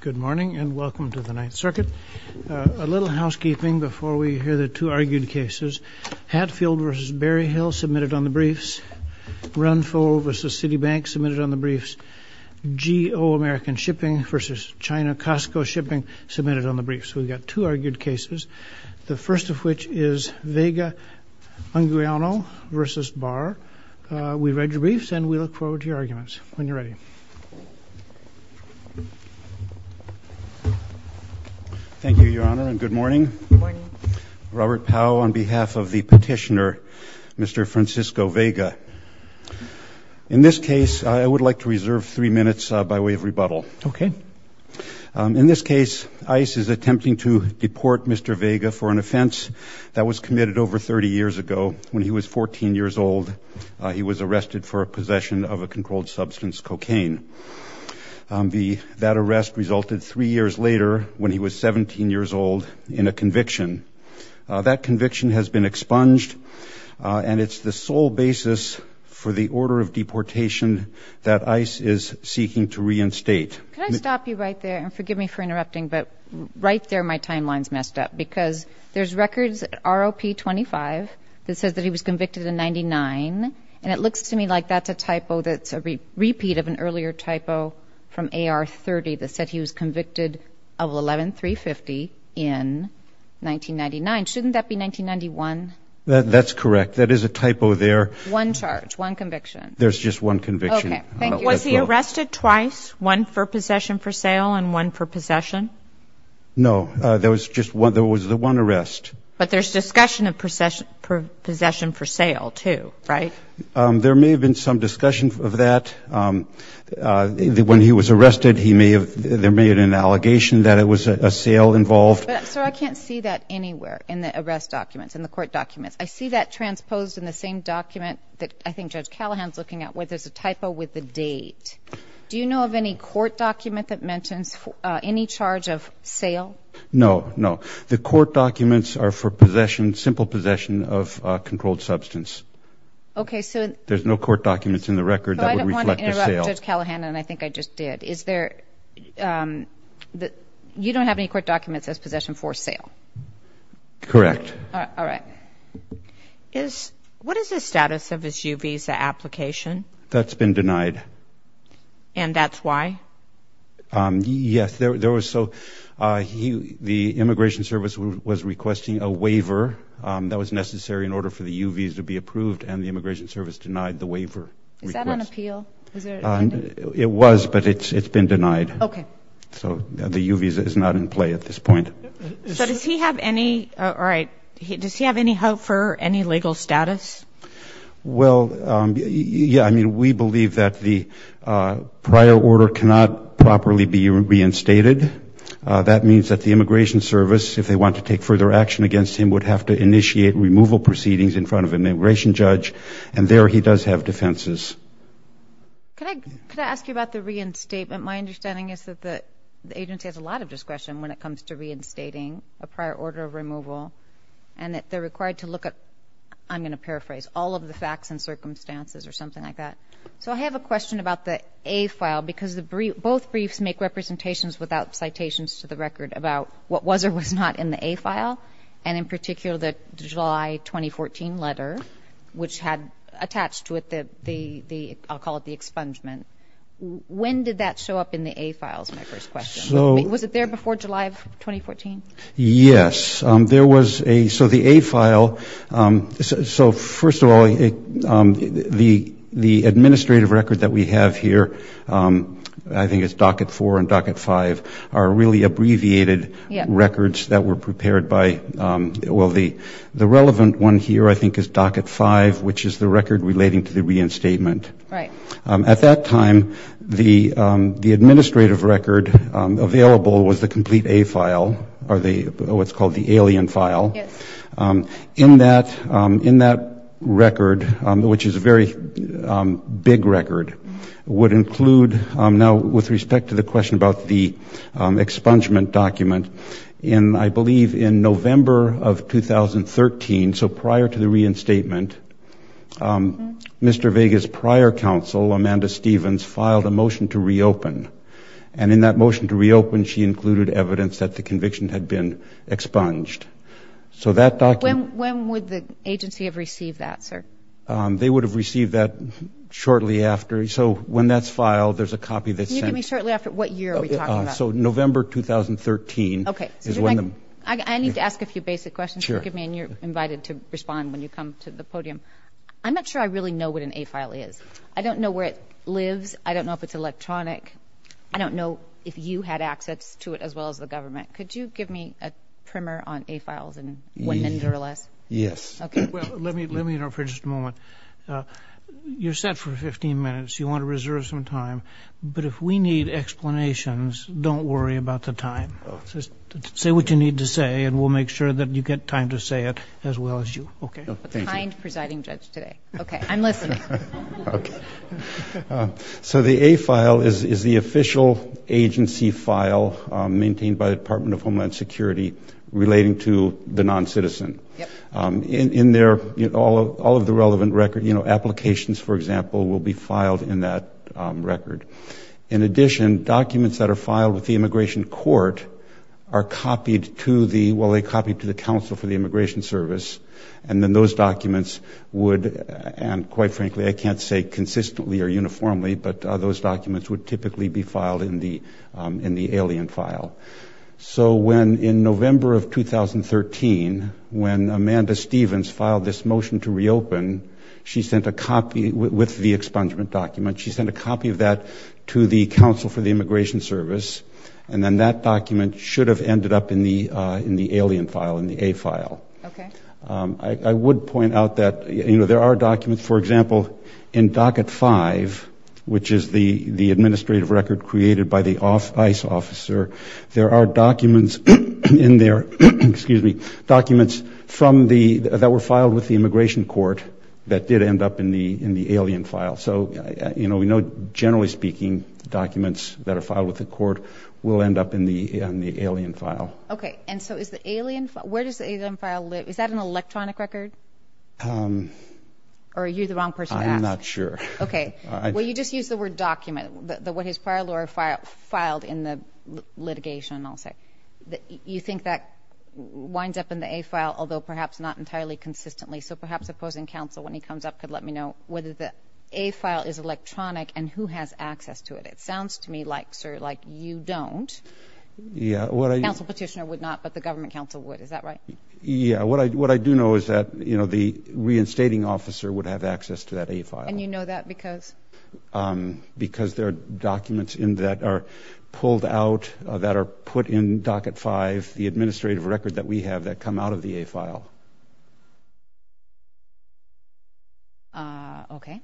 Good morning and welcome to the Ninth Circuit. A little housekeeping before we hear the two argued cases. Hatfield v. Berryhill submitted on the briefs. Runfoe v. Citibank submitted on the briefs. G.O. American Shipping v. China Costco Shipping submitted on the briefs. We've read your briefs and we look forward to your arguments when you're ready. Thank you, Your Honor, and good morning. Robert Powell on behalf of the petitioner, Mr. Francisco Vega. In this case, I would like to reserve three minutes by way of rebuttal. In this case, ICE is attempting to deport Mr. Vega for an offense that was committed over 30 years ago when he was 14 years old. He was arrested for possession of a controlled substance, cocaine. That arrest resulted three years later when he was 17 years old in a conviction. That conviction has been expunged and it's the sole basis for the order of deportation that ICE is seeking to reinstate. Can I stop you right there and forgive me for interrupting, but right there my timeline's messed up because there's records, ROP 25, that says that he was convicted in 99. And it looks to me like that's a typo that's a repeat of an earlier typo from AR 30 that said he was convicted of 11-350 in 1999. Shouldn't that be 1991? That's correct. That is a typo there. One charge, one conviction. There's just one conviction. Was he arrested twice? One for possession for sale and one for possession? No, there was just one. There was the one arrest. But there's discussion of possession for sale, too, right? There may have been some discussion of that. When he was arrested, he may have made an allegation that it was a sale involved. But, sir, I can't see that anywhere in the arrest documents, in the court documents. I see that transposed in the same document that I think Judge Callahan's looking at where there's a typo with the date. Do you know of any court document that mentions any charge of sale? No, no. The court documents are for possession, simple possession of a controlled substance. Okay, so... There's no court documents in the record that would reflect a sale. You brought up Judge Callahan, and I think I just did. Is there... You don't have any court documents as possession for sale? Correct. All right. What is the status of his U visa application? That's been denied. And that's why? Yes. There was so... The Immigration Service was requesting a waiver that was necessary in order for the U visa to be approved, and the Immigration Service denied the waiver request. Is that on appeal? It was, but it's been denied. Okay. So the U visa is not in play at this point. So does he have any... All right. Does he have any hope for any legal status? Well, yeah. I mean, we believe that the prior order cannot properly be reinstated. That means that the Immigration Service, if they want to take further action against him, would have to initiate removal proceedings in front of an immigration judge, and there he does have defenses. Could I ask you about the reinstatement? My understanding is that the agency has a lot of discretion when it comes to reinstating a prior order of removal, and that they're required to look at, I'm going to paraphrase, all of the facts and circumstances or something like that. So I have a question about the A file, because both briefs make representations without citations to the record about what was or was not in the A file, and in particular the July 2014 letter, which had attached to it the, I'll call it the expungement. When did that show up in the A files, my first question? Was it there before July of 2014? Yes. There was a, so the A file, so first of all, the administrative record that we have here, I think it's docket four and docket five, are really abbreviated records that were prepared by, well, the relevant one here I think is docket five, which is the record relating to the reinstatement. Right. At that time, the administrative record available was the complete A file, or what's called the alien file. Yes. In that record, which is a very big record, would include, now with respect to the question about the expungement document, in, I believe, in November of 2013, so prior to the reinstatement, Mr. Vega's prior counsel, Amanda Stevens, filed a motion to reopen, and in that motion to reopen she included evidence that the conviction had been expunged. So that document. When would the agency have received that, sir? They would have received that shortly after. So when that's filed, there's a copy that's sent. Can you give me shortly after, what year are we talking about? So November 2013 is when the. Okay. I need to ask a few basic questions. Sure. Forgive me, and you're invited to respond when you come to the podium. I'm not sure I really know what an A file is. I don't know where it lives. I don't know if it's electronic. I don't know if you had access to it as well as the government. Could you give me a primer on A files in one minute or less? Yes. Okay. Well, let me interrupt for just a moment. You're set for 15 minutes. You want to reserve some time. But if we need explanations, don't worry about the time. Just say what you need to say, and we'll make sure that you get time to say it as well as you. Okay? Thank you. A kind presiding judge today. Okay. I'm listening. Okay. So the A file is the official agency file maintained by the Department of Homeland Security relating to the noncitizen. Yep. In there, all of the relevant record, you know, applications, for example, will be filed in that record. In addition, documents that are filed with the immigration court are copied to the ‑‑ well, they're copied to the counsel for the immigration service, and then those documents would, and quite frankly, I can't say consistently or uniformly, but those documents would typically be filed in the alien file. So when in November of 2013, when Amanda Stevens filed this motion to reopen, she sent a copy with the expungement document. She sent a copy of that to the counsel for the immigration service, and then that document should have ended up in the alien file, in the A file. Okay. I would point out that, you know, there are documents, for example, in docket 5, which is the administrative record created by the ICE officer, there are documents in there, excuse me, documents from the ‑‑ that were filed with the immigration court that did end up in the alien file. So, you know, we know generally speaking documents that are filed with the court will end up in the alien file. Okay. And so is the alien ‑‑ where does the alien file live? Is that an electronic record? Or are you the wrong person to ask? I'm not sure. Okay. Well, you just used the word document, what his prior lawyer filed in the litigation, I'll say. You think that winds up in the A file, although perhaps not entirely consistently. So perhaps opposing counsel, when he comes up, could let me know whether the A file is electronic and who has access to it. It sounds to me like, sir, like you don't. Yeah. Counsel petitioner would not, but the government counsel would. Is that right? Yeah. What I do know is that, you know, the reinstating officer would have access to that A file. And you know that because? Because there are documents in that are pulled out, that are put in docket 5, the administrative record that we have that come out of the A file. Okay.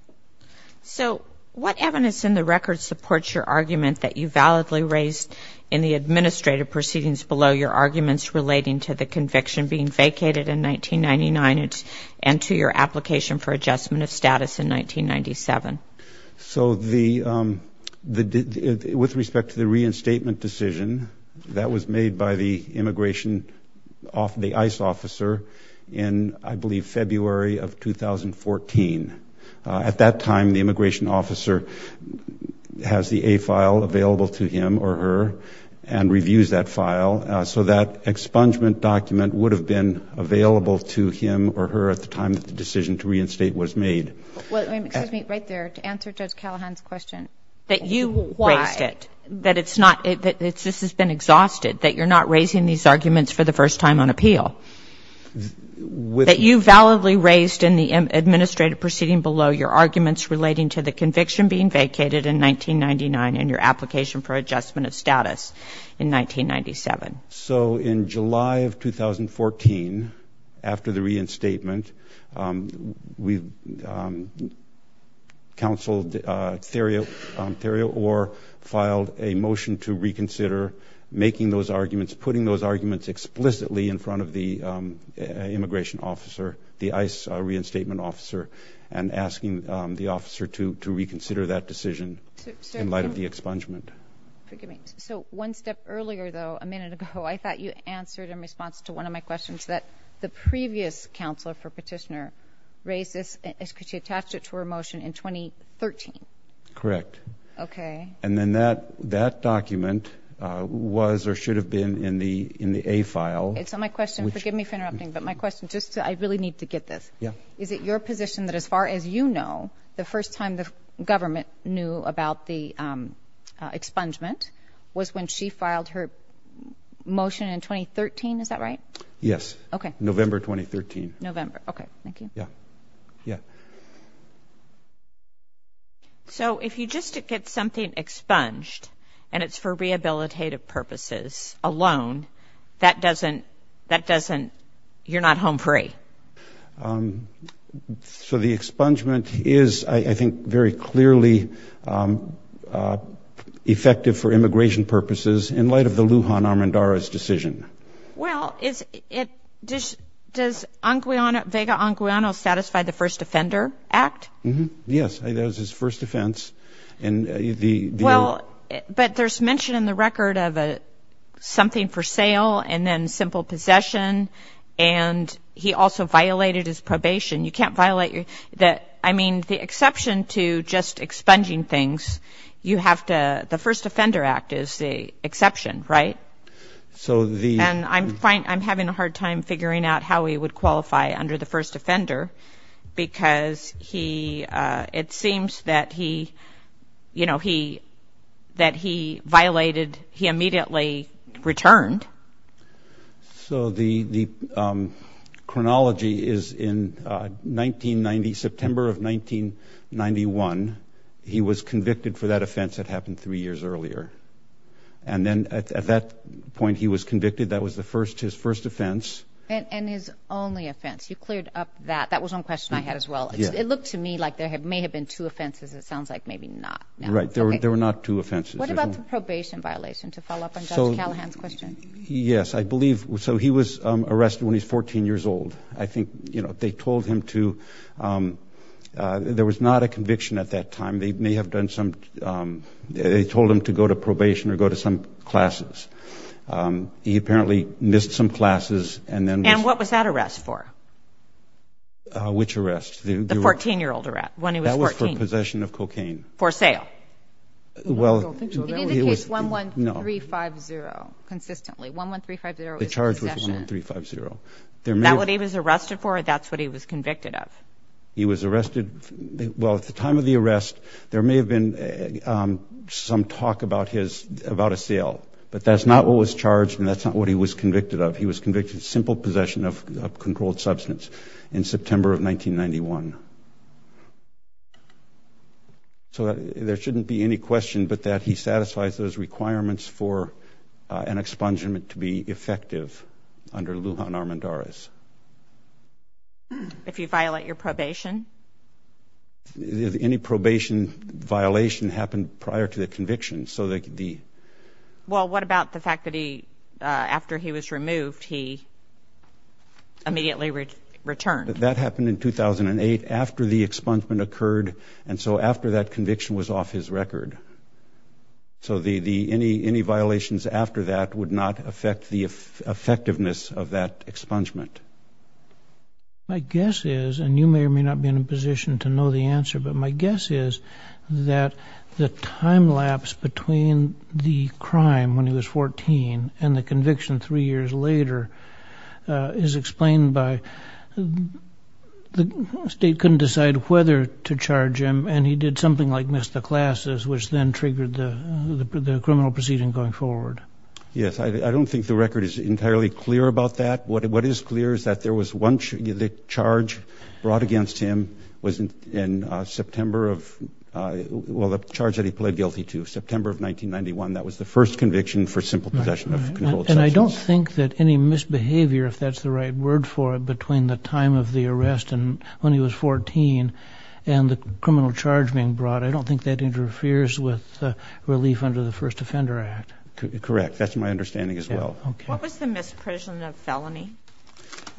So what evidence in the record supports your argument that you validly raised in the administrative proceedings below your arguments relating to the conviction being vacated in 1999 and to your application for adjustment of status in 1997? So with respect to the reinstatement decision, that was made by the immigration, the ICE officer in, I believe, February of 2014. At that time, the immigration officer has the A file available to him or her and reviews that file so that expungement document would have been available to him or her at the time that the decision to reinstate was made. Well, excuse me, right there, to answer Judge Callahan's question. That you raised it. Why? That it's not, that this has been exhausted, that you're not raising these arguments for the first time on appeal. That you validly raised in the administrative proceeding below your arguments relating to the conviction being vacated in 1999 and your application for adjustment of status in 1997. So in July of 2014, after the reinstatement, we counseled Theria Orr, filed a motion to reconsider making those arguments, putting those arguments explicitly in front of the immigration officer, the ICE reinstatement officer, and asking the officer to reconsider that decision in light of the expungement. So one step earlier, though, a minute ago, I thought you answered in response to one of my questions that the previous counselor for petitioner raised this because she attached it to her motion in 2013. Correct. Okay. And then that document was or should have been in the A file. So my question, forgive me for interrupting, but my question, I really need to get this. Is it your position that as far as you know, the first time the government knew about the expungement was when she filed her motion in 2013, is that right? Yes. Okay. November 2013. November. Okay. Thank you. Yeah. Yeah. So if you just get something expunged and it's for rehabilitative purposes alone, that doesn't, you're not home free. So the expungement is, I think, very clearly effective for immigration purposes in light of the Lujan-Arandara's decision. Well, does Vega Anguiano satisfy the First Offender Act? Yes. That was his first offense. Well, but there's mention in the record of something for sale and then simple possession, and he also violated his probation. You can't violate your, I mean, the exception to just expunging things, you have to, the First Offender Act is the exception, right? And I'm having a hard time figuring out how he would qualify under the first offender because it seems that he violated, he immediately returned. So the chronology is in September of 1991, he was convicted for that offense that happened three years earlier. And then at that point he was convicted. That was his first offense. And his only offense. You cleared up that. That was one question I had as well. It looked to me like there may have been two offenses. It sounds like maybe not. Right. There were not two offenses. What about the probation violation, to follow up on Judge Callahan's question? Yes, I believe. So he was arrested when he was 14 years old. I think they told him to, there was not a conviction at that time. They may have done some, they told him to go to probation or go to some classes. He apparently missed some classes and then was. And what was that arrest for? Which arrest? The 14-year-old arrest, when he was 14. That was for possession of cocaine. For sale. Well. It indicates 11350 consistently. 11350 is possession. The charge was 11350. That what he was arrested for? That's what he was convicted of? He was arrested. Well, at the time of the arrest, there may have been some talk about his, about a sale. But that's not what was charged and that's not what he was convicted of. He was convicted of simple possession of controlled substance in September of 1991. So there shouldn't be any question but that he satisfies those requirements for an expungement to be effective under Lujan Armendariz. If you violate your probation? Any probation violation happened prior to the conviction. So the. Well, what about the fact that he, after he was removed, he immediately returned? That happened in 2008 after the expungement occurred. And so after that conviction was off his record. So any violations after that would not affect the effectiveness of that expungement. My guess is, and you may or may not be in a position to know the answer, but my guess is that the time lapse between the crime when he was 14 and the conviction three years later is explained by the state He couldn't decide whether to charge him. And he did something like miss the classes, which then triggered the criminal proceeding going forward. Yes, I don't think the record is entirely clear about that. What is clear is that there was one charge brought against him was in September of. Well, the charge that he pled guilty to September of 1991. That was the first conviction for simple possession. And I don't think that any misbehavior, if that's the right word for it, between the time of the arrest and when he was 14 and the criminal charge being brought, I don't think that interferes with relief under the first offender act. Correct. That's my understanding as well. What was the misprision of felony?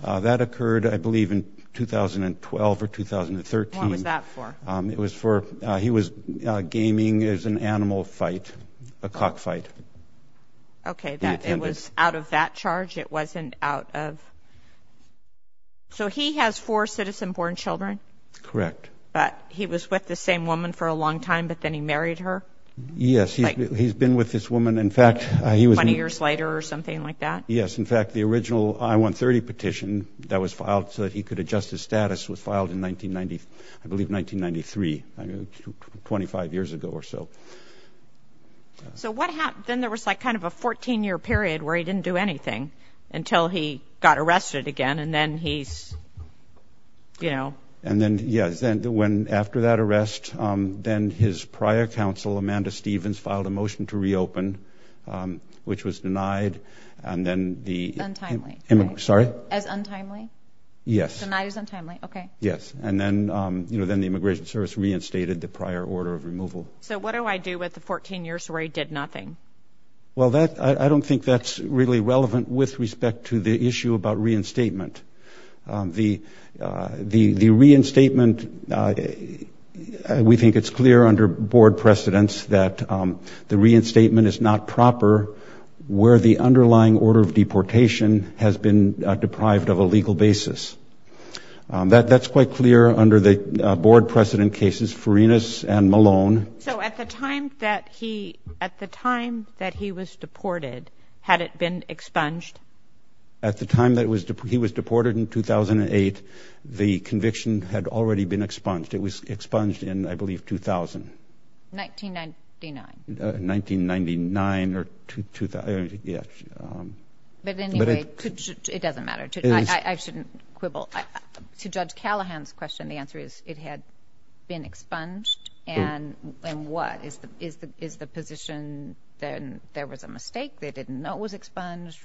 That occurred, I believe, in 2012 or 2013. What was that for? It was for he was gaming as an animal fight, a cock fight. OK, that it was out of that charge. It wasn't out of. So he has four citizen born children. Correct. But he was with the same woman for a long time, but then he married her. Yes, he's been with this woman. In fact, he was 20 years later or something like that. Yes. In fact, the original I-130 petition that was filed so that he could adjust his status was filed in 1990. I believe 1993, 25 years ago or so. So what happened? Then there was like kind of a 14-year period where he didn't do anything until he got arrested again. And then he's, you know. And then, yes, when after that arrest, then his prior counsel, Amanda Stevens, filed a motion to reopen, which was denied. And then the. Untimely. Sorry? As untimely? Yes. Denied as untimely, OK. Yes. And then, you know, then the Immigration Service reinstated the prior order of removal. So what do I do with the 14 years where he did nothing? Well, I don't think that's really relevant with respect to the issue about reinstatement. The reinstatement, we think it's clear under board precedents that the reinstatement is not proper where the underlying order of deportation has been deprived of a legal basis. That's quite clear under the board precedent cases, Farinas and Malone. So at the time that he was deported, had it been expunged? At the time that he was deported in 2008, the conviction had already been expunged. It was expunged in, I believe, 2000. 1999. 1999 or 2000, yes. But anyway, it doesn't matter. I shouldn't quibble. To Judge Callahan's question, the answer is it had been expunged. And what? Is the position that there was a mistake, they didn't know it was expunged?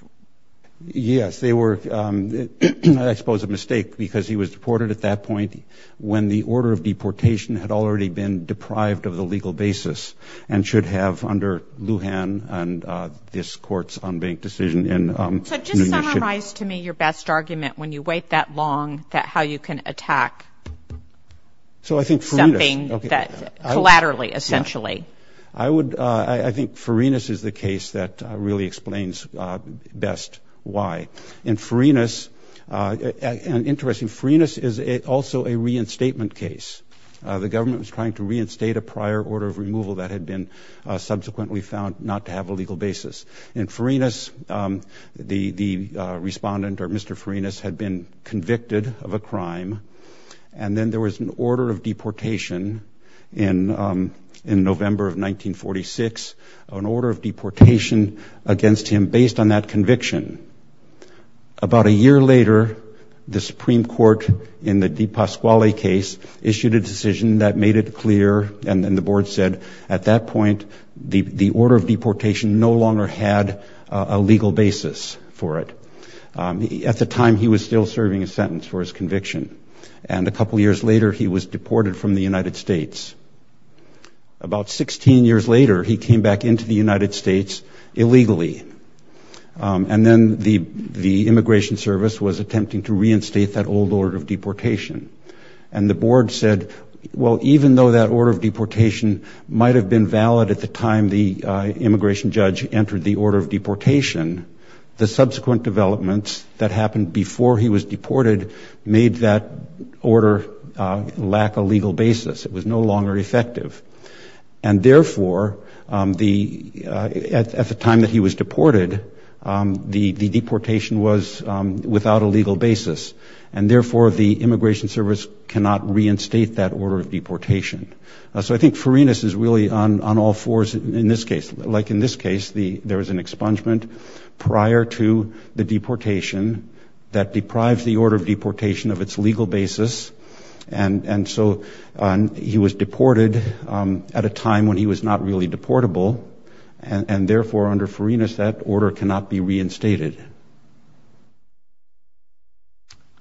Yes, they were, I suppose, a mistake because he was deported at that point when the order of deportation had already been deprived of the legal basis and should have under Lujan and this court's unbanked decision. So just summarize to me your best argument when you wait that long, how you can attack something collaterally, essentially. I think Farinas is the case that really explains best why. In Farinas, and interesting, Farinas is also a reinstatement case. The government was trying to reinstate a prior order of removal that had been subsequently found not to have a legal basis. In Farinas, the respondent, or Mr. Farinas, had been convicted of a crime, and then there was an order of deportation in November of 1946, an order of deportation against him based on that conviction. About a year later, the Supreme Court, in the DePasquale case, issued a decision that made it clear, and then the board said, at that point, the order of deportation no longer had a legal basis for it. At the time, he was still serving a sentence for his conviction, and a couple years later he was deported from the United States. About 16 years later, he came back into the United States illegally, and then the Immigration Service was attempting to reinstate that old order of deportation, and the board said, well, even though that order of deportation might have been valid at the time the immigration judge entered the order of deportation, the subsequent developments that happened before he was deported made that order lack a legal basis. It was no longer effective. And therefore, at the time that he was deported, the deportation was without a legal basis, and therefore the Immigration Service cannot reinstate that order of deportation. So I think Farinas is really on all fours in this case. Like in this case, there is an expungement prior to the deportation that deprives the order of deportation of its legal basis, and so he was deported at a time when he was not really deportable, and therefore under Farinas that order cannot be reinstated.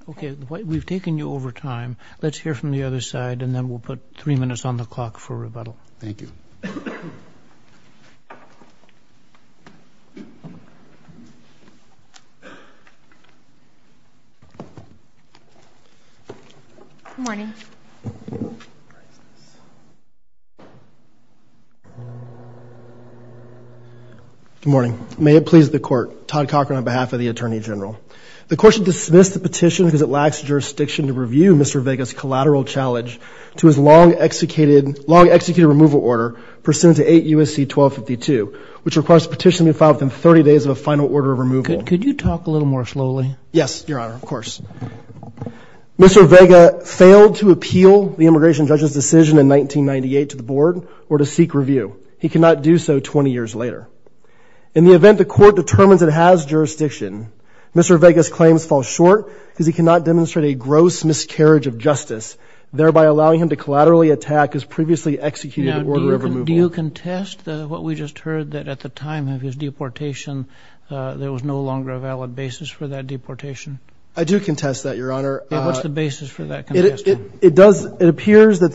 Okay, we've taken you over time. Let's hear from the other side, and then we'll put three minutes on the clock for rebuttal. Thank you. Good morning. Good morning. May it please the Court. Todd Cochran on behalf of the Attorney General. The Court should dismiss the petition because it lacks jurisdiction to review Mr. Vega's collateral challenge to his long-executed removal order pursuant to 8 U.S.C. 1252, which requires the petition to be filed within 30 days of a final order of removal. Could you talk a little more slowly? Yes, Your Honor, of course. Mr. Vega failed to appeal the immigration judge's decision in 1998 to the Board or to seek review. He cannot do so 20 years later. In the event the Court determines it has jurisdiction, Mr. Vega's claims fall short because he cannot demonstrate a gross miscarriage of justice, thereby allowing him to collaterally attack his previously executed order of removal. Now, do you contest what we just heard, that at the time of his deportation, there was no longer a valid basis for that deportation? I do contest that, Your Honor. What's the basis for that contest? It appears that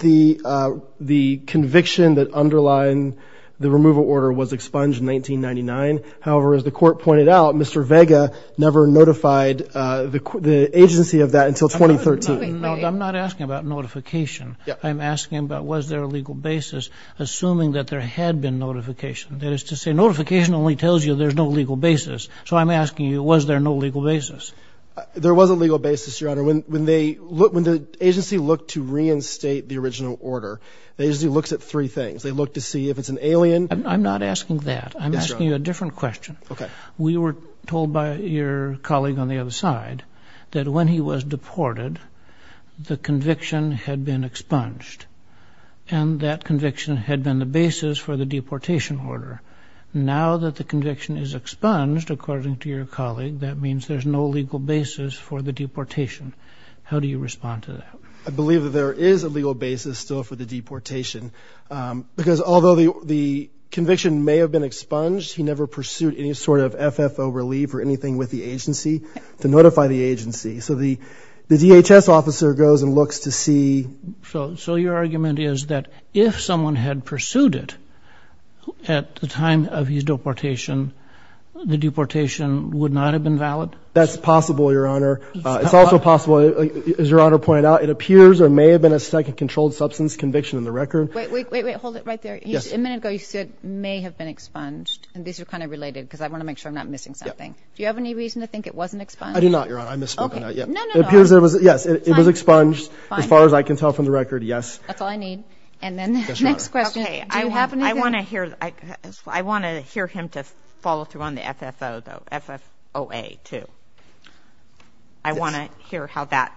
the conviction that underlined the removal order was expunged in 1999. However, as the Court pointed out, Mr. Vega never notified the agency of that until 2013. I'm not asking about notification. I'm asking about was there a legal basis, assuming that there had been notification. That is to say, notification only tells you there's no legal basis. So I'm asking you, was there no legal basis? There was a legal basis, Your Honor. When the agency looked to reinstate the original order, the agency looks at three things. They look to see if it's an alien. I'm not asking that. I'm asking you a different question. Okay. We were told by your colleague on the other side that when he was deported, the conviction had been expunged, and that conviction had been the basis for the deportation order. Now that the conviction is expunged, according to your colleague, that means there's no legal basis for the deportation. How do you respond to that? I believe that there is a legal basis still for the deportation, because although the conviction may have been expunged, he never pursued any sort of FFO relief or anything with the agency to notify the agency. So the DHS officer goes and looks to see. So your argument is that if someone had pursued it at the time of his deportation, the deportation would not have been valid? That's possible, Your Honor. It's also possible, as Your Honor pointed out, it appears there may have been a second controlled substance conviction in the record. Wait, wait, wait. Hold it right there. Yes. A minute ago you said it may have been expunged, and these are kind of related because I want to make sure I'm not missing something. Do you have any reason to think it wasn't expunged? I do not, Your Honor. I misspoke on that. No, no, no. It appears it was expunged, as far as I can tell from the record, yes. That's all I need. And then the next question. Okay. Do you have anything? I want to hear him to follow through on the FFOA, too. I want to hear how that,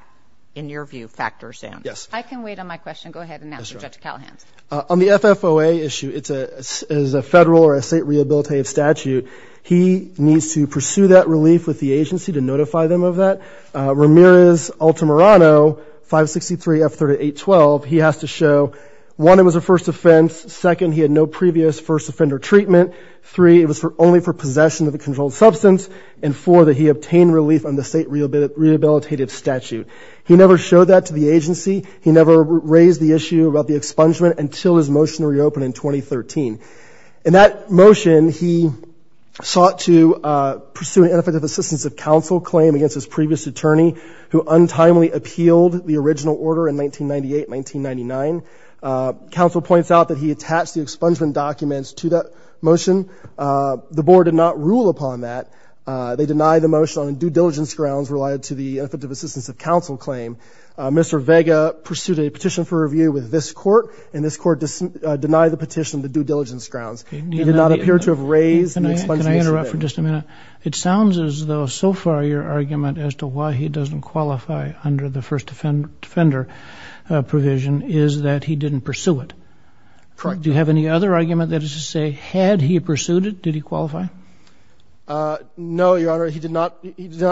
in your view, factors in. Yes. I can wait on my question. Go ahead and answer, Judge Callahan. On the FFOA issue, it is a federal or a state rehabilitative statute. He needs to pursue that relief with the agency to notify them of that. Ramirez-Altamirano 563F3812, he has to show, one, it was a first offense. Second, he had no previous first offender treatment. Three, it was only for possession of a controlled substance. And four, that he obtained relief on the state rehabilitative statute. He never showed that to the agency. He never raised the issue about the expungement until his motion reopened in 2013. In that motion, he sought to pursue an ineffective assistance of counsel claim against his previous attorney, who untimely appealed the original order in 1998-1999. Counsel points out that he attached the expungement documents to that motion. The board did not rule upon that. They denied the motion on due diligence grounds related to the ineffective assistance of counsel claim. Mr. Vega pursued a petition for review with this court, and this court denied the petition to due diligence grounds. He did not appear to have raised the expungement. Can I interrupt for just a minute? It sounds as though so far your argument as to why he doesn't qualify under the first offender provision is that he didn't pursue it. Correct. Do you have any other argument that is to say had he pursued it, did he qualify? No, Your Honor. He did not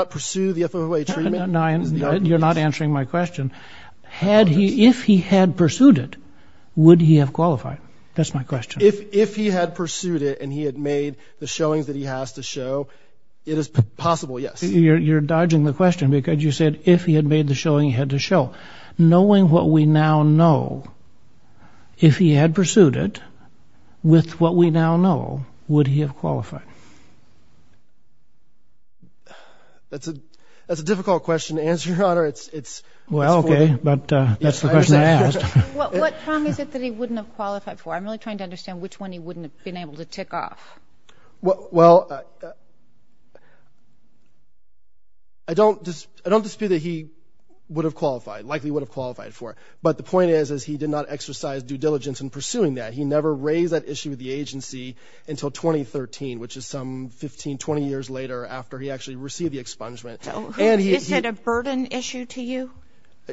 pursue the FOA treatment. You're not answering my question. If he had pursued it, would he have qualified? That's my question. If he had pursued it and he had made the showings that he has to show, it is possible, yes. You're dodging the question because you said if he had made the showing, he had to show. Knowing what we now know, if he had pursued it with what we now know, would he have qualified? That's a difficult question to answer, Your Honor. Well, okay, but that's the question I asked. What prong is it that he wouldn't have qualified for? I'm really trying to understand which one he wouldn't have been able to tick off. Well, I don't dispute that he would have qualified, likely would have qualified for it, but the point is he did not exercise due diligence in pursuing that. He never raised that issue with the agency until 2013, which is some 15, 20 years later after he actually received the expungement. Is it a burden issue to you?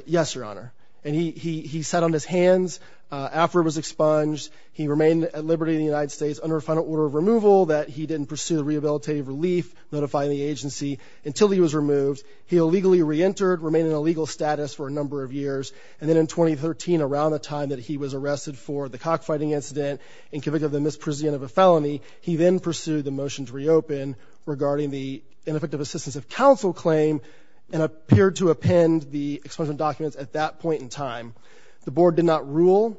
Yes, Your Honor, and he sat on his hands after it was expunged. He remained at liberty in the United States under a final order of removal that he didn't pursue rehabilitative relief, notifying the agency, until he was removed. He illegally reentered, remained in illegal status for a number of years, and then in 2013, around the time that he was arrested for the cockfighting incident and convicted of the misprision of a felony, he then pursued the motion to reopen regarding the ineffective assistance of counsel claim and appeared to append the expungement documents at that point in time. The board did not rule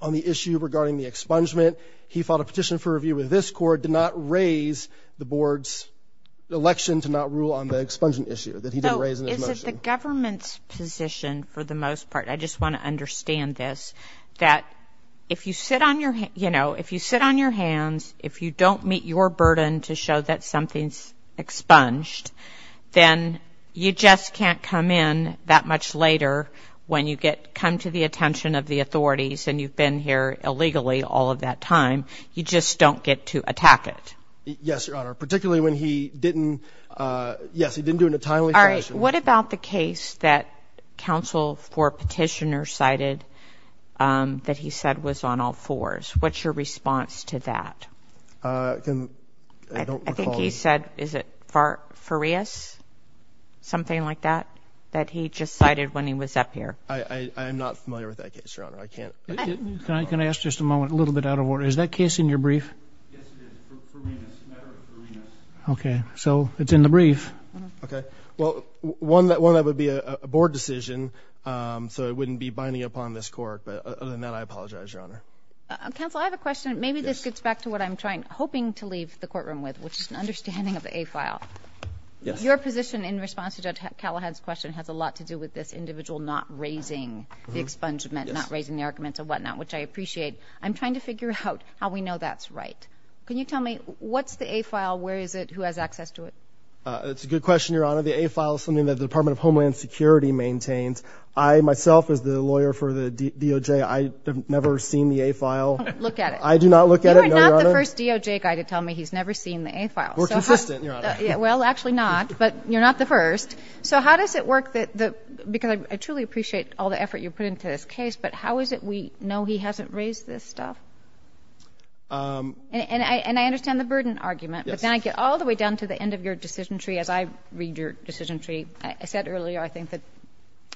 on the issue regarding the expungement. He filed a petition for review with this court, did not raise the board's election to not rule on the expungement issue that he didn't raise in his motion. In the government's position, for the most part, I just want to understand this, that if you sit on your hands, if you don't meet your burden to show that something's expunged, then you just can't come in that much later when you come to the attention of the authorities and you've been here illegally all of that time. You just don't get to attack it. Yes, Your Honor, particularly when he didn't do it in a timely fashion. What about the case that counsel for petitioner cited that he said was on all fours? What's your response to that? I think he said, is it Farias, something like that, that he just cited when he was up here? I am not familiar with that case, Your Honor. Can I ask just a moment, a little bit out of order? Is that case in your brief? Okay, so it's in the brief. Well, one, that would be a board decision, so it wouldn't be binding upon this court, but other than that, I apologize, Your Honor. Counsel, I have a question. Maybe this gets back to what I'm hoping to leave the courtroom with, which is an understanding of the A file. Your position in response to Judge Callahan's question has a lot to do with this individual not raising the expungement, not raising the arguments and whatnot, which I appreciate. I'm trying to figure out how we know that's right. Can you tell me, what's the A file? Where is it? Who has access to it? That's a good question, Your Honor. The A file is something that the Department of Homeland Security maintains. I, myself, as the lawyer for the DOJ, I have never seen the A file. Don't look at it. I do not look at it, Your Honor. You are not the first DOJ guy to tell me he's never seen the A file. We're consistent, Your Honor. Well, actually not, but you're not the first. So how does it work? Because I truly appreciate all the effort you put into this case, but how is it we know he hasn't raised this stuff? And I understand the burden argument, but then I get all the way down to the end of your decision tree. As I read your decision tree, I said earlier, I think the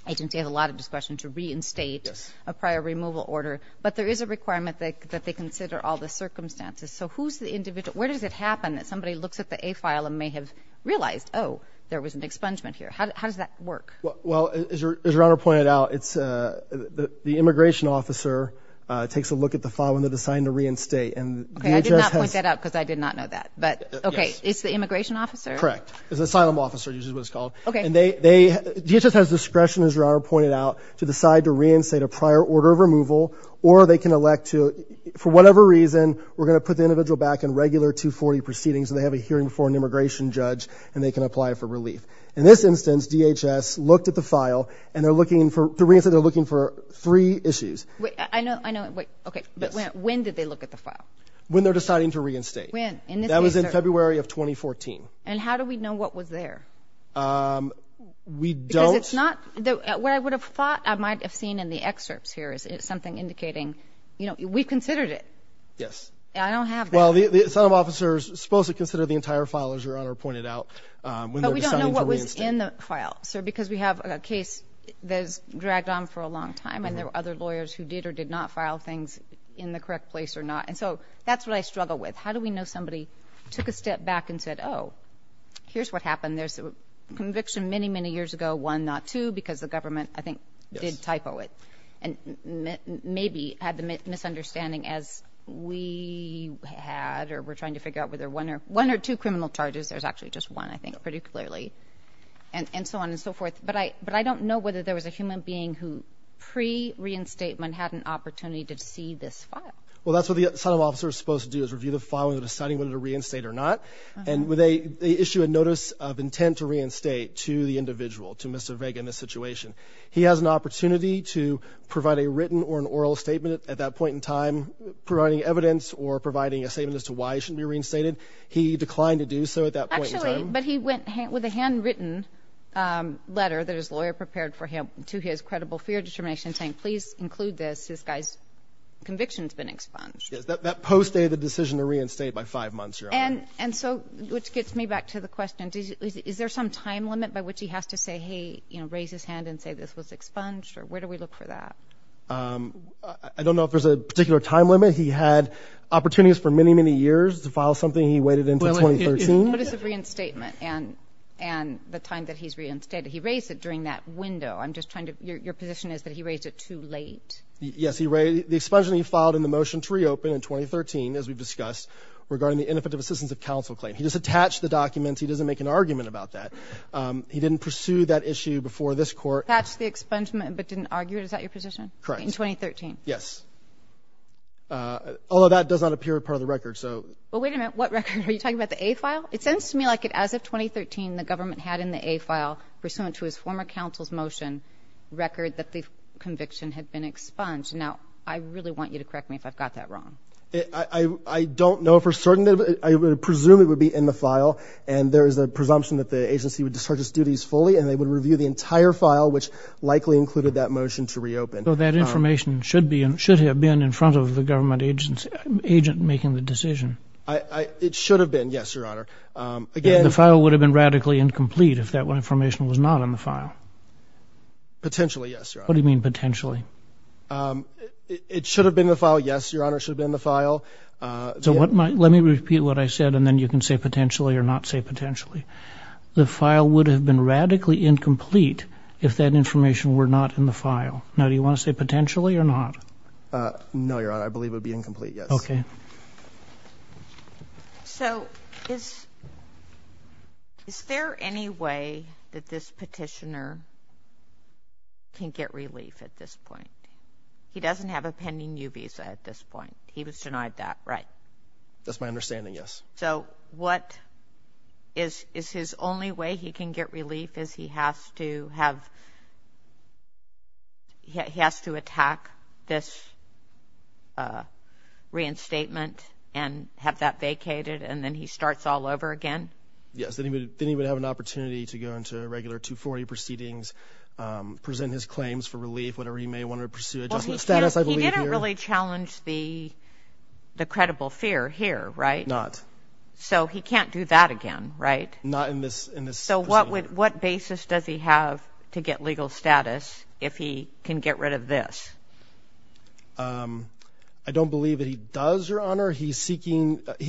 agency has a lot of discretion to reinstate a prior removal order, but there is a requirement that they consider all the circumstances. So where does it happen that somebody looks at the A file and may have realized, oh, there was an expungement here? How does that work? Well, as Your Honor pointed out, the immigration officer takes a look at the file when they're assigned to reinstate. Okay, I did not point that out because I did not know that, but, okay, it's the immigration officer? Correct. It's the asylum officer, which is what it's called. Okay. And DHS has discretion, as Your Honor pointed out, to decide to reinstate a prior order of removal, or they can elect to, for whatever reason, we're going to put the individual back in regular 240 proceedings so they have a hearing before an immigration judge, and they can apply for relief. In this instance, DHS looked at the file, and they're looking for three issues. I know. Okay, but when did they look at the file? When they're deciding to reinstate. When? In this case, sir? That was in February of 2014. And how do we know what was there? We don't. Because it's not what I would have thought I might have seen in the excerpts here is something indicating, you know, we considered it. Yes. I don't have that. Well, the asylum officer is supposed to consider the entire file, as Your Honor pointed out, when they're deciding to reinstate. But we don't know what was in the file, sir, because we have a case that has dragged on for a long time, and there were other lawyers who did or did not file things in the correct place or not. And so that's what I struggle with. How do we know somebody took a step back and said, oh, here's what happened. There's a conviction many, many years ago, one, not two, because the government, I think, did typo it and maybe had the misunderstanding as we had or were trying to figure out whether one or two criminal charges. There's actually just one, I think, pretty clearly, and so on and so forth. But I don't know whether there was a human being who pre-reinstatement had an opportunity to see this file. Well, that's what the asylum officer is supposed to do, is review the file when they're deciding whether to reinstate or not. And they issue a notice of intent to reinstate to the individual, to Mr. Vega in this situation. He has an opportunity to provide a written or an oral statement at that point in time, providing evidence or providing a statement as to why he shouldn't be reinstated. He declined to do so at that point in time. Actually, but he went with a handwritten letter that his lawyer prepared for him to his credible fear determination saying, please include this. This guy's conviction has been expunged. Yes, that postdated the decision to reinstate by five months. And so, which gets me back to the question, is there some time limit by which he has to say, hey, raise his hand and say, this was expunged, or where do we look for that? I don't know if there's a particular time limit. He had opportunities for many, many years to file something. He waited until 2013. What is the reinstatement and the time that he's reinstated? He raised it during that window. I'm just trying to – your position is that he raised it too late. Yes, he raised – the expungement he filed in the motion to reopen in 2013, as we've discussed, regarding the ineffective assistance of counsel claim. He just attached the documents. He doesn't make an argument about that. He didn't pursue that issue before this court. Attached the expungement but didn't argue it. Is that your position? Correct. In 2013? Yes. Although that does not appear part of the record, so. Well, wait a minute. What record? Are you talking about the A file? Well, it sounds to me like as of 2013 the government had in the A file, pursuant to his former counsel's motion, record that the conviction had been expunged. Now, I really want you to correct me if I've got that wrong. I don't know for certain. I presume it would be in the file, and there is a presumption that the agency would discharge its duties fully and they would review the entire file, which likely included that motion to reopen. So that information should have been in front of the government agent making the decision. It should have been, yes, Your Honor. The file would have been radically incomplete if that information was not in the file. Potentially, yes, Your Honor. What do you mean potentially? It should have been in the file, yes, Your Honor. It should have been in the file. So let me repeat what I said, and then you can say potentially or not say potentially. The file would have been radically incomplete if that information were not in the file. Now, do you want to say potentially or not? No, Your Honor. I believe it would be incomplete, yes. Okay. So is there any way that this petitioner can get relief at this point? He doesn't have a pending U visa at this point. He was denied that, right? That's my understanding, yes. So is his only way he can get relief is he has to attack this reinstatement and have that vacated, and then he starts all over again? Yes. Then he would have an opportunity to go into regular 240 proceedings, present his claims for relief, whatever he may want to pursue. He didn't really challenge the credible fear here, right? Not. So he can't do that again, right? Not in this proceeding. So what basis does he have to get legal status if he can get rid of this? I don't believe that he does, Your Honor. He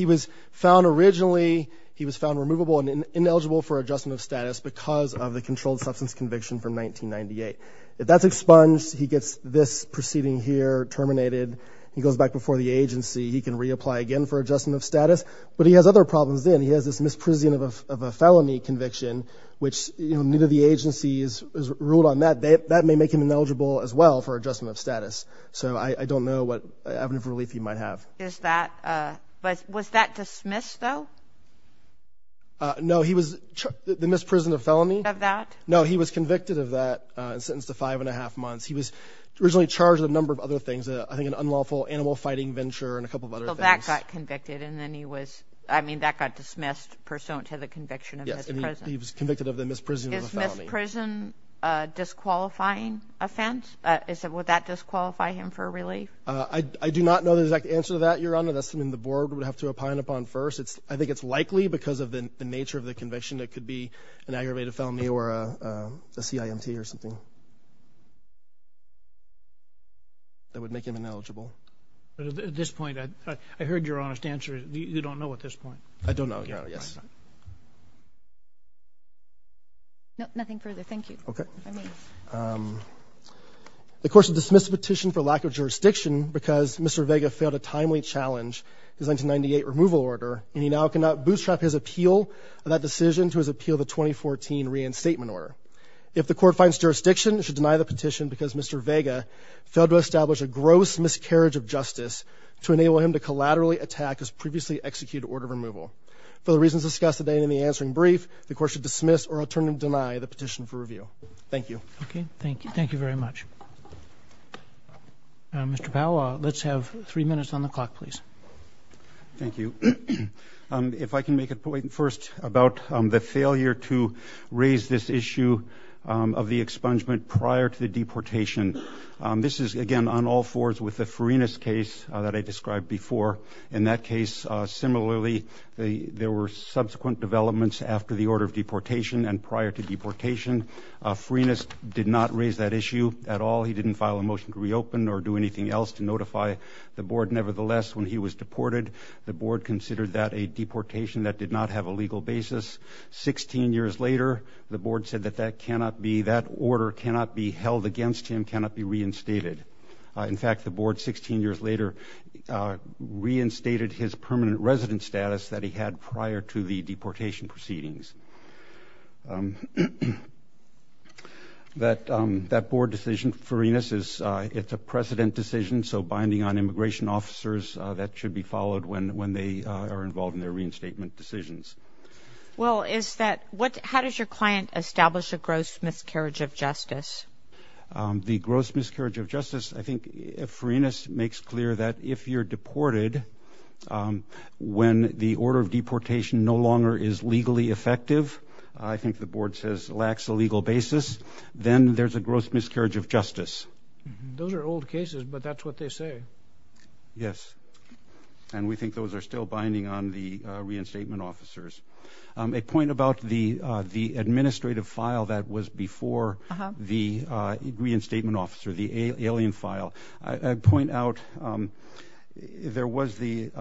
was found originally removable and ineligible for adjustment of status because of the controlled substance conviction from 1998. If that's expunged, he gets this proceeding here terminated. He goes back before the agency. He can reapply again for adjustment of status. But he has other problems then. He has this misprision of a felony conviction, which, you know, neither the agency has ruled on that. That may make him ineligible as well for adjustment of status. So I don't know what avenue of relief he might have. Was that dismissed, though? No. The misprision of felony? No, he was convicted of that and sentenced to five and a half months. He was originally charged with a number of other things, I think an unlawful animal fighting venture and a couple of other things. So that got convicted and then he was, I mean, that got dismissed pursuant to the conviction of his prison. Yes, and he was convicted of the misprision of a felony. Is misprison a disqualifying offense? Would that disqualify him for relief? I do not know the exact answer to that, Your Honor. That's something the board would have to opine upon first. I think it's likely because of the nature of the conviction. It could be an aggravated felony or a CIMT or something that would make him ineligible. At this point, I heard your honest answer. You don't know at this point? I don't know, Your Honor, yes. No, nothing further. Thank you. The court should dismiss the petition for lack of jurisdiction because Mr. Vega failed to timely challenge his 1998 removal order and he now cannot bootstrap his appeal of that decision to his appeal of the 2014 reinstatement order. If the court finds jurisdiction, because Mr. Vega failed to establish a gross miscarriage of justice to enable him to collaterally attack his previously executed order of removal. For the reasons discussed today in the answering brief, the court should dismiss or alternatively deny the petition for review. Thank you. Thank you very much. Mr. Powell, let's have three minutes on the clock, please. Thank you. If I can make a point first about the failure to raise this issue of the expungement prior to the deportation. This is, again, on all fours with the Farinas case that I described before. In that case, similarly, there were subsequent developments after the order of deportation and prior to deportation. Farinas did not raise that issue at all. He didn't file a motion to reopen or do anything else to notify the board. Nevertheless, when he was deported, the board considered that a deportation that did not have a legal basis. Sixteen years later, the board said that that order cannot be held against him, cannot be reinstated. In fact, the board 16 years later reinstated his permanent resident status that he had prior to the deportation proceedings. That board decision, Farinas, it's a precedent decision. So binding on immigration officers, that should be followed when they are involved in their reinstatement decisions. Well, how does your client establish a gross miscarriage of justice? The gross miscarriage of justice, I think, Farinas makes clear that if you're deported, when the order of deportation no longer is legally effective, I think the board says lacks a legal basis, then there's a gross miscarriage of justice. Those are old cases, but that's what they say. Yes, and we think those are still binding on the reinstatement officers. A point about the administrative file that was before the reinstatement officer, the alien file. I'd point out there was the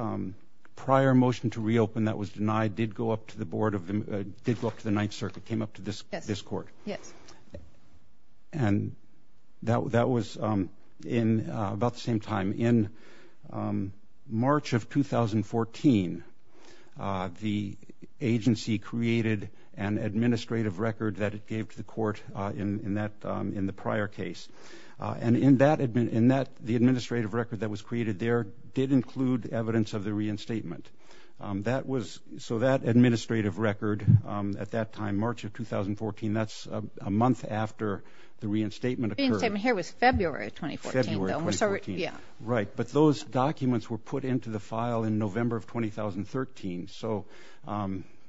prior motion to reopen that was denied, did go up to the board, did go up to the Ninth Circuit, came up to this court, and that was about the same time. In March of 2014, the agency created an administrative record that it gave to the court in the prior case. The administrative record that was created there did include evidence of the reinstatement. So that administrative record at that time, March of 2014, that's a month after the reinstatement occurred. The reinstatement here was February of 2014, though. Right, but those documents were put into the file in November of 2013, so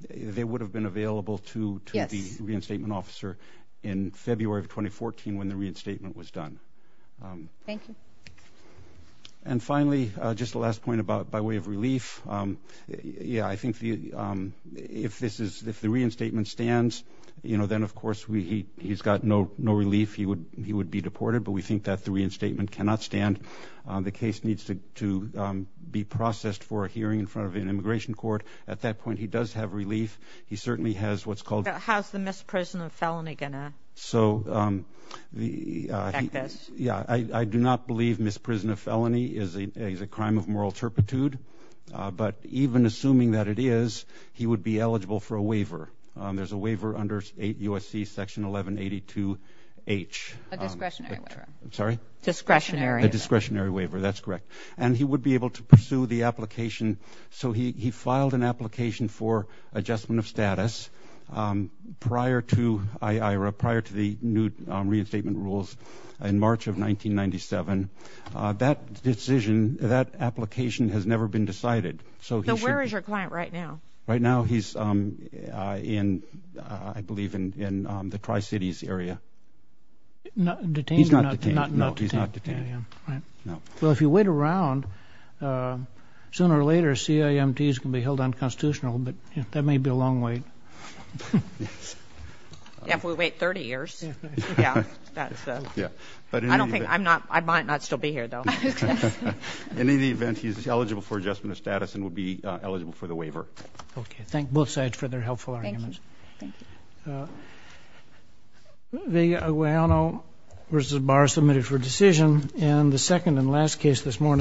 they would have been available to the reinstatement officer in February of 2014 when the reinstatement was done. Thank you. And finally, just the last point about by way of relief. I think if the reinstatement stands, then, of course, he's got no relief. He would be deported, but we think that the reinstatement cannot stand. The case needs to be processed for a hearing in front of an immigration court. At that point, he does have relief. He certainly has what's called- How's the misprison of felony going to affect this? Yeah, I do not believe misprison of felony is a crime of moral turpitude, but even assuming that it is, he would be eligible for a waiver. There's a waiver under 8 U.S.C. Section 1182H. A discretionary waiver. I'm sorry? Discretionary. A discretionary waiver. That's correct. And he would be able to pursue the application. So he filed an application for adjustment of status prior to the new reinstatement rules in March of 1997. That decision, that application has never been decided. So where is your client right now? Right now he's in, I believe, in the Tri-Cities area. Detained? He's not detained. Well, if you wait around, sooner or later CIMTs can be held unconstitutional, but that may be a long wait. Yeah, if we wait 30 years. I might not still be here, though. In any event, he's eligible for adjustment of status and would be eligible for the waiver. Okay. Thank both sides for their helpful arguments. Thank you.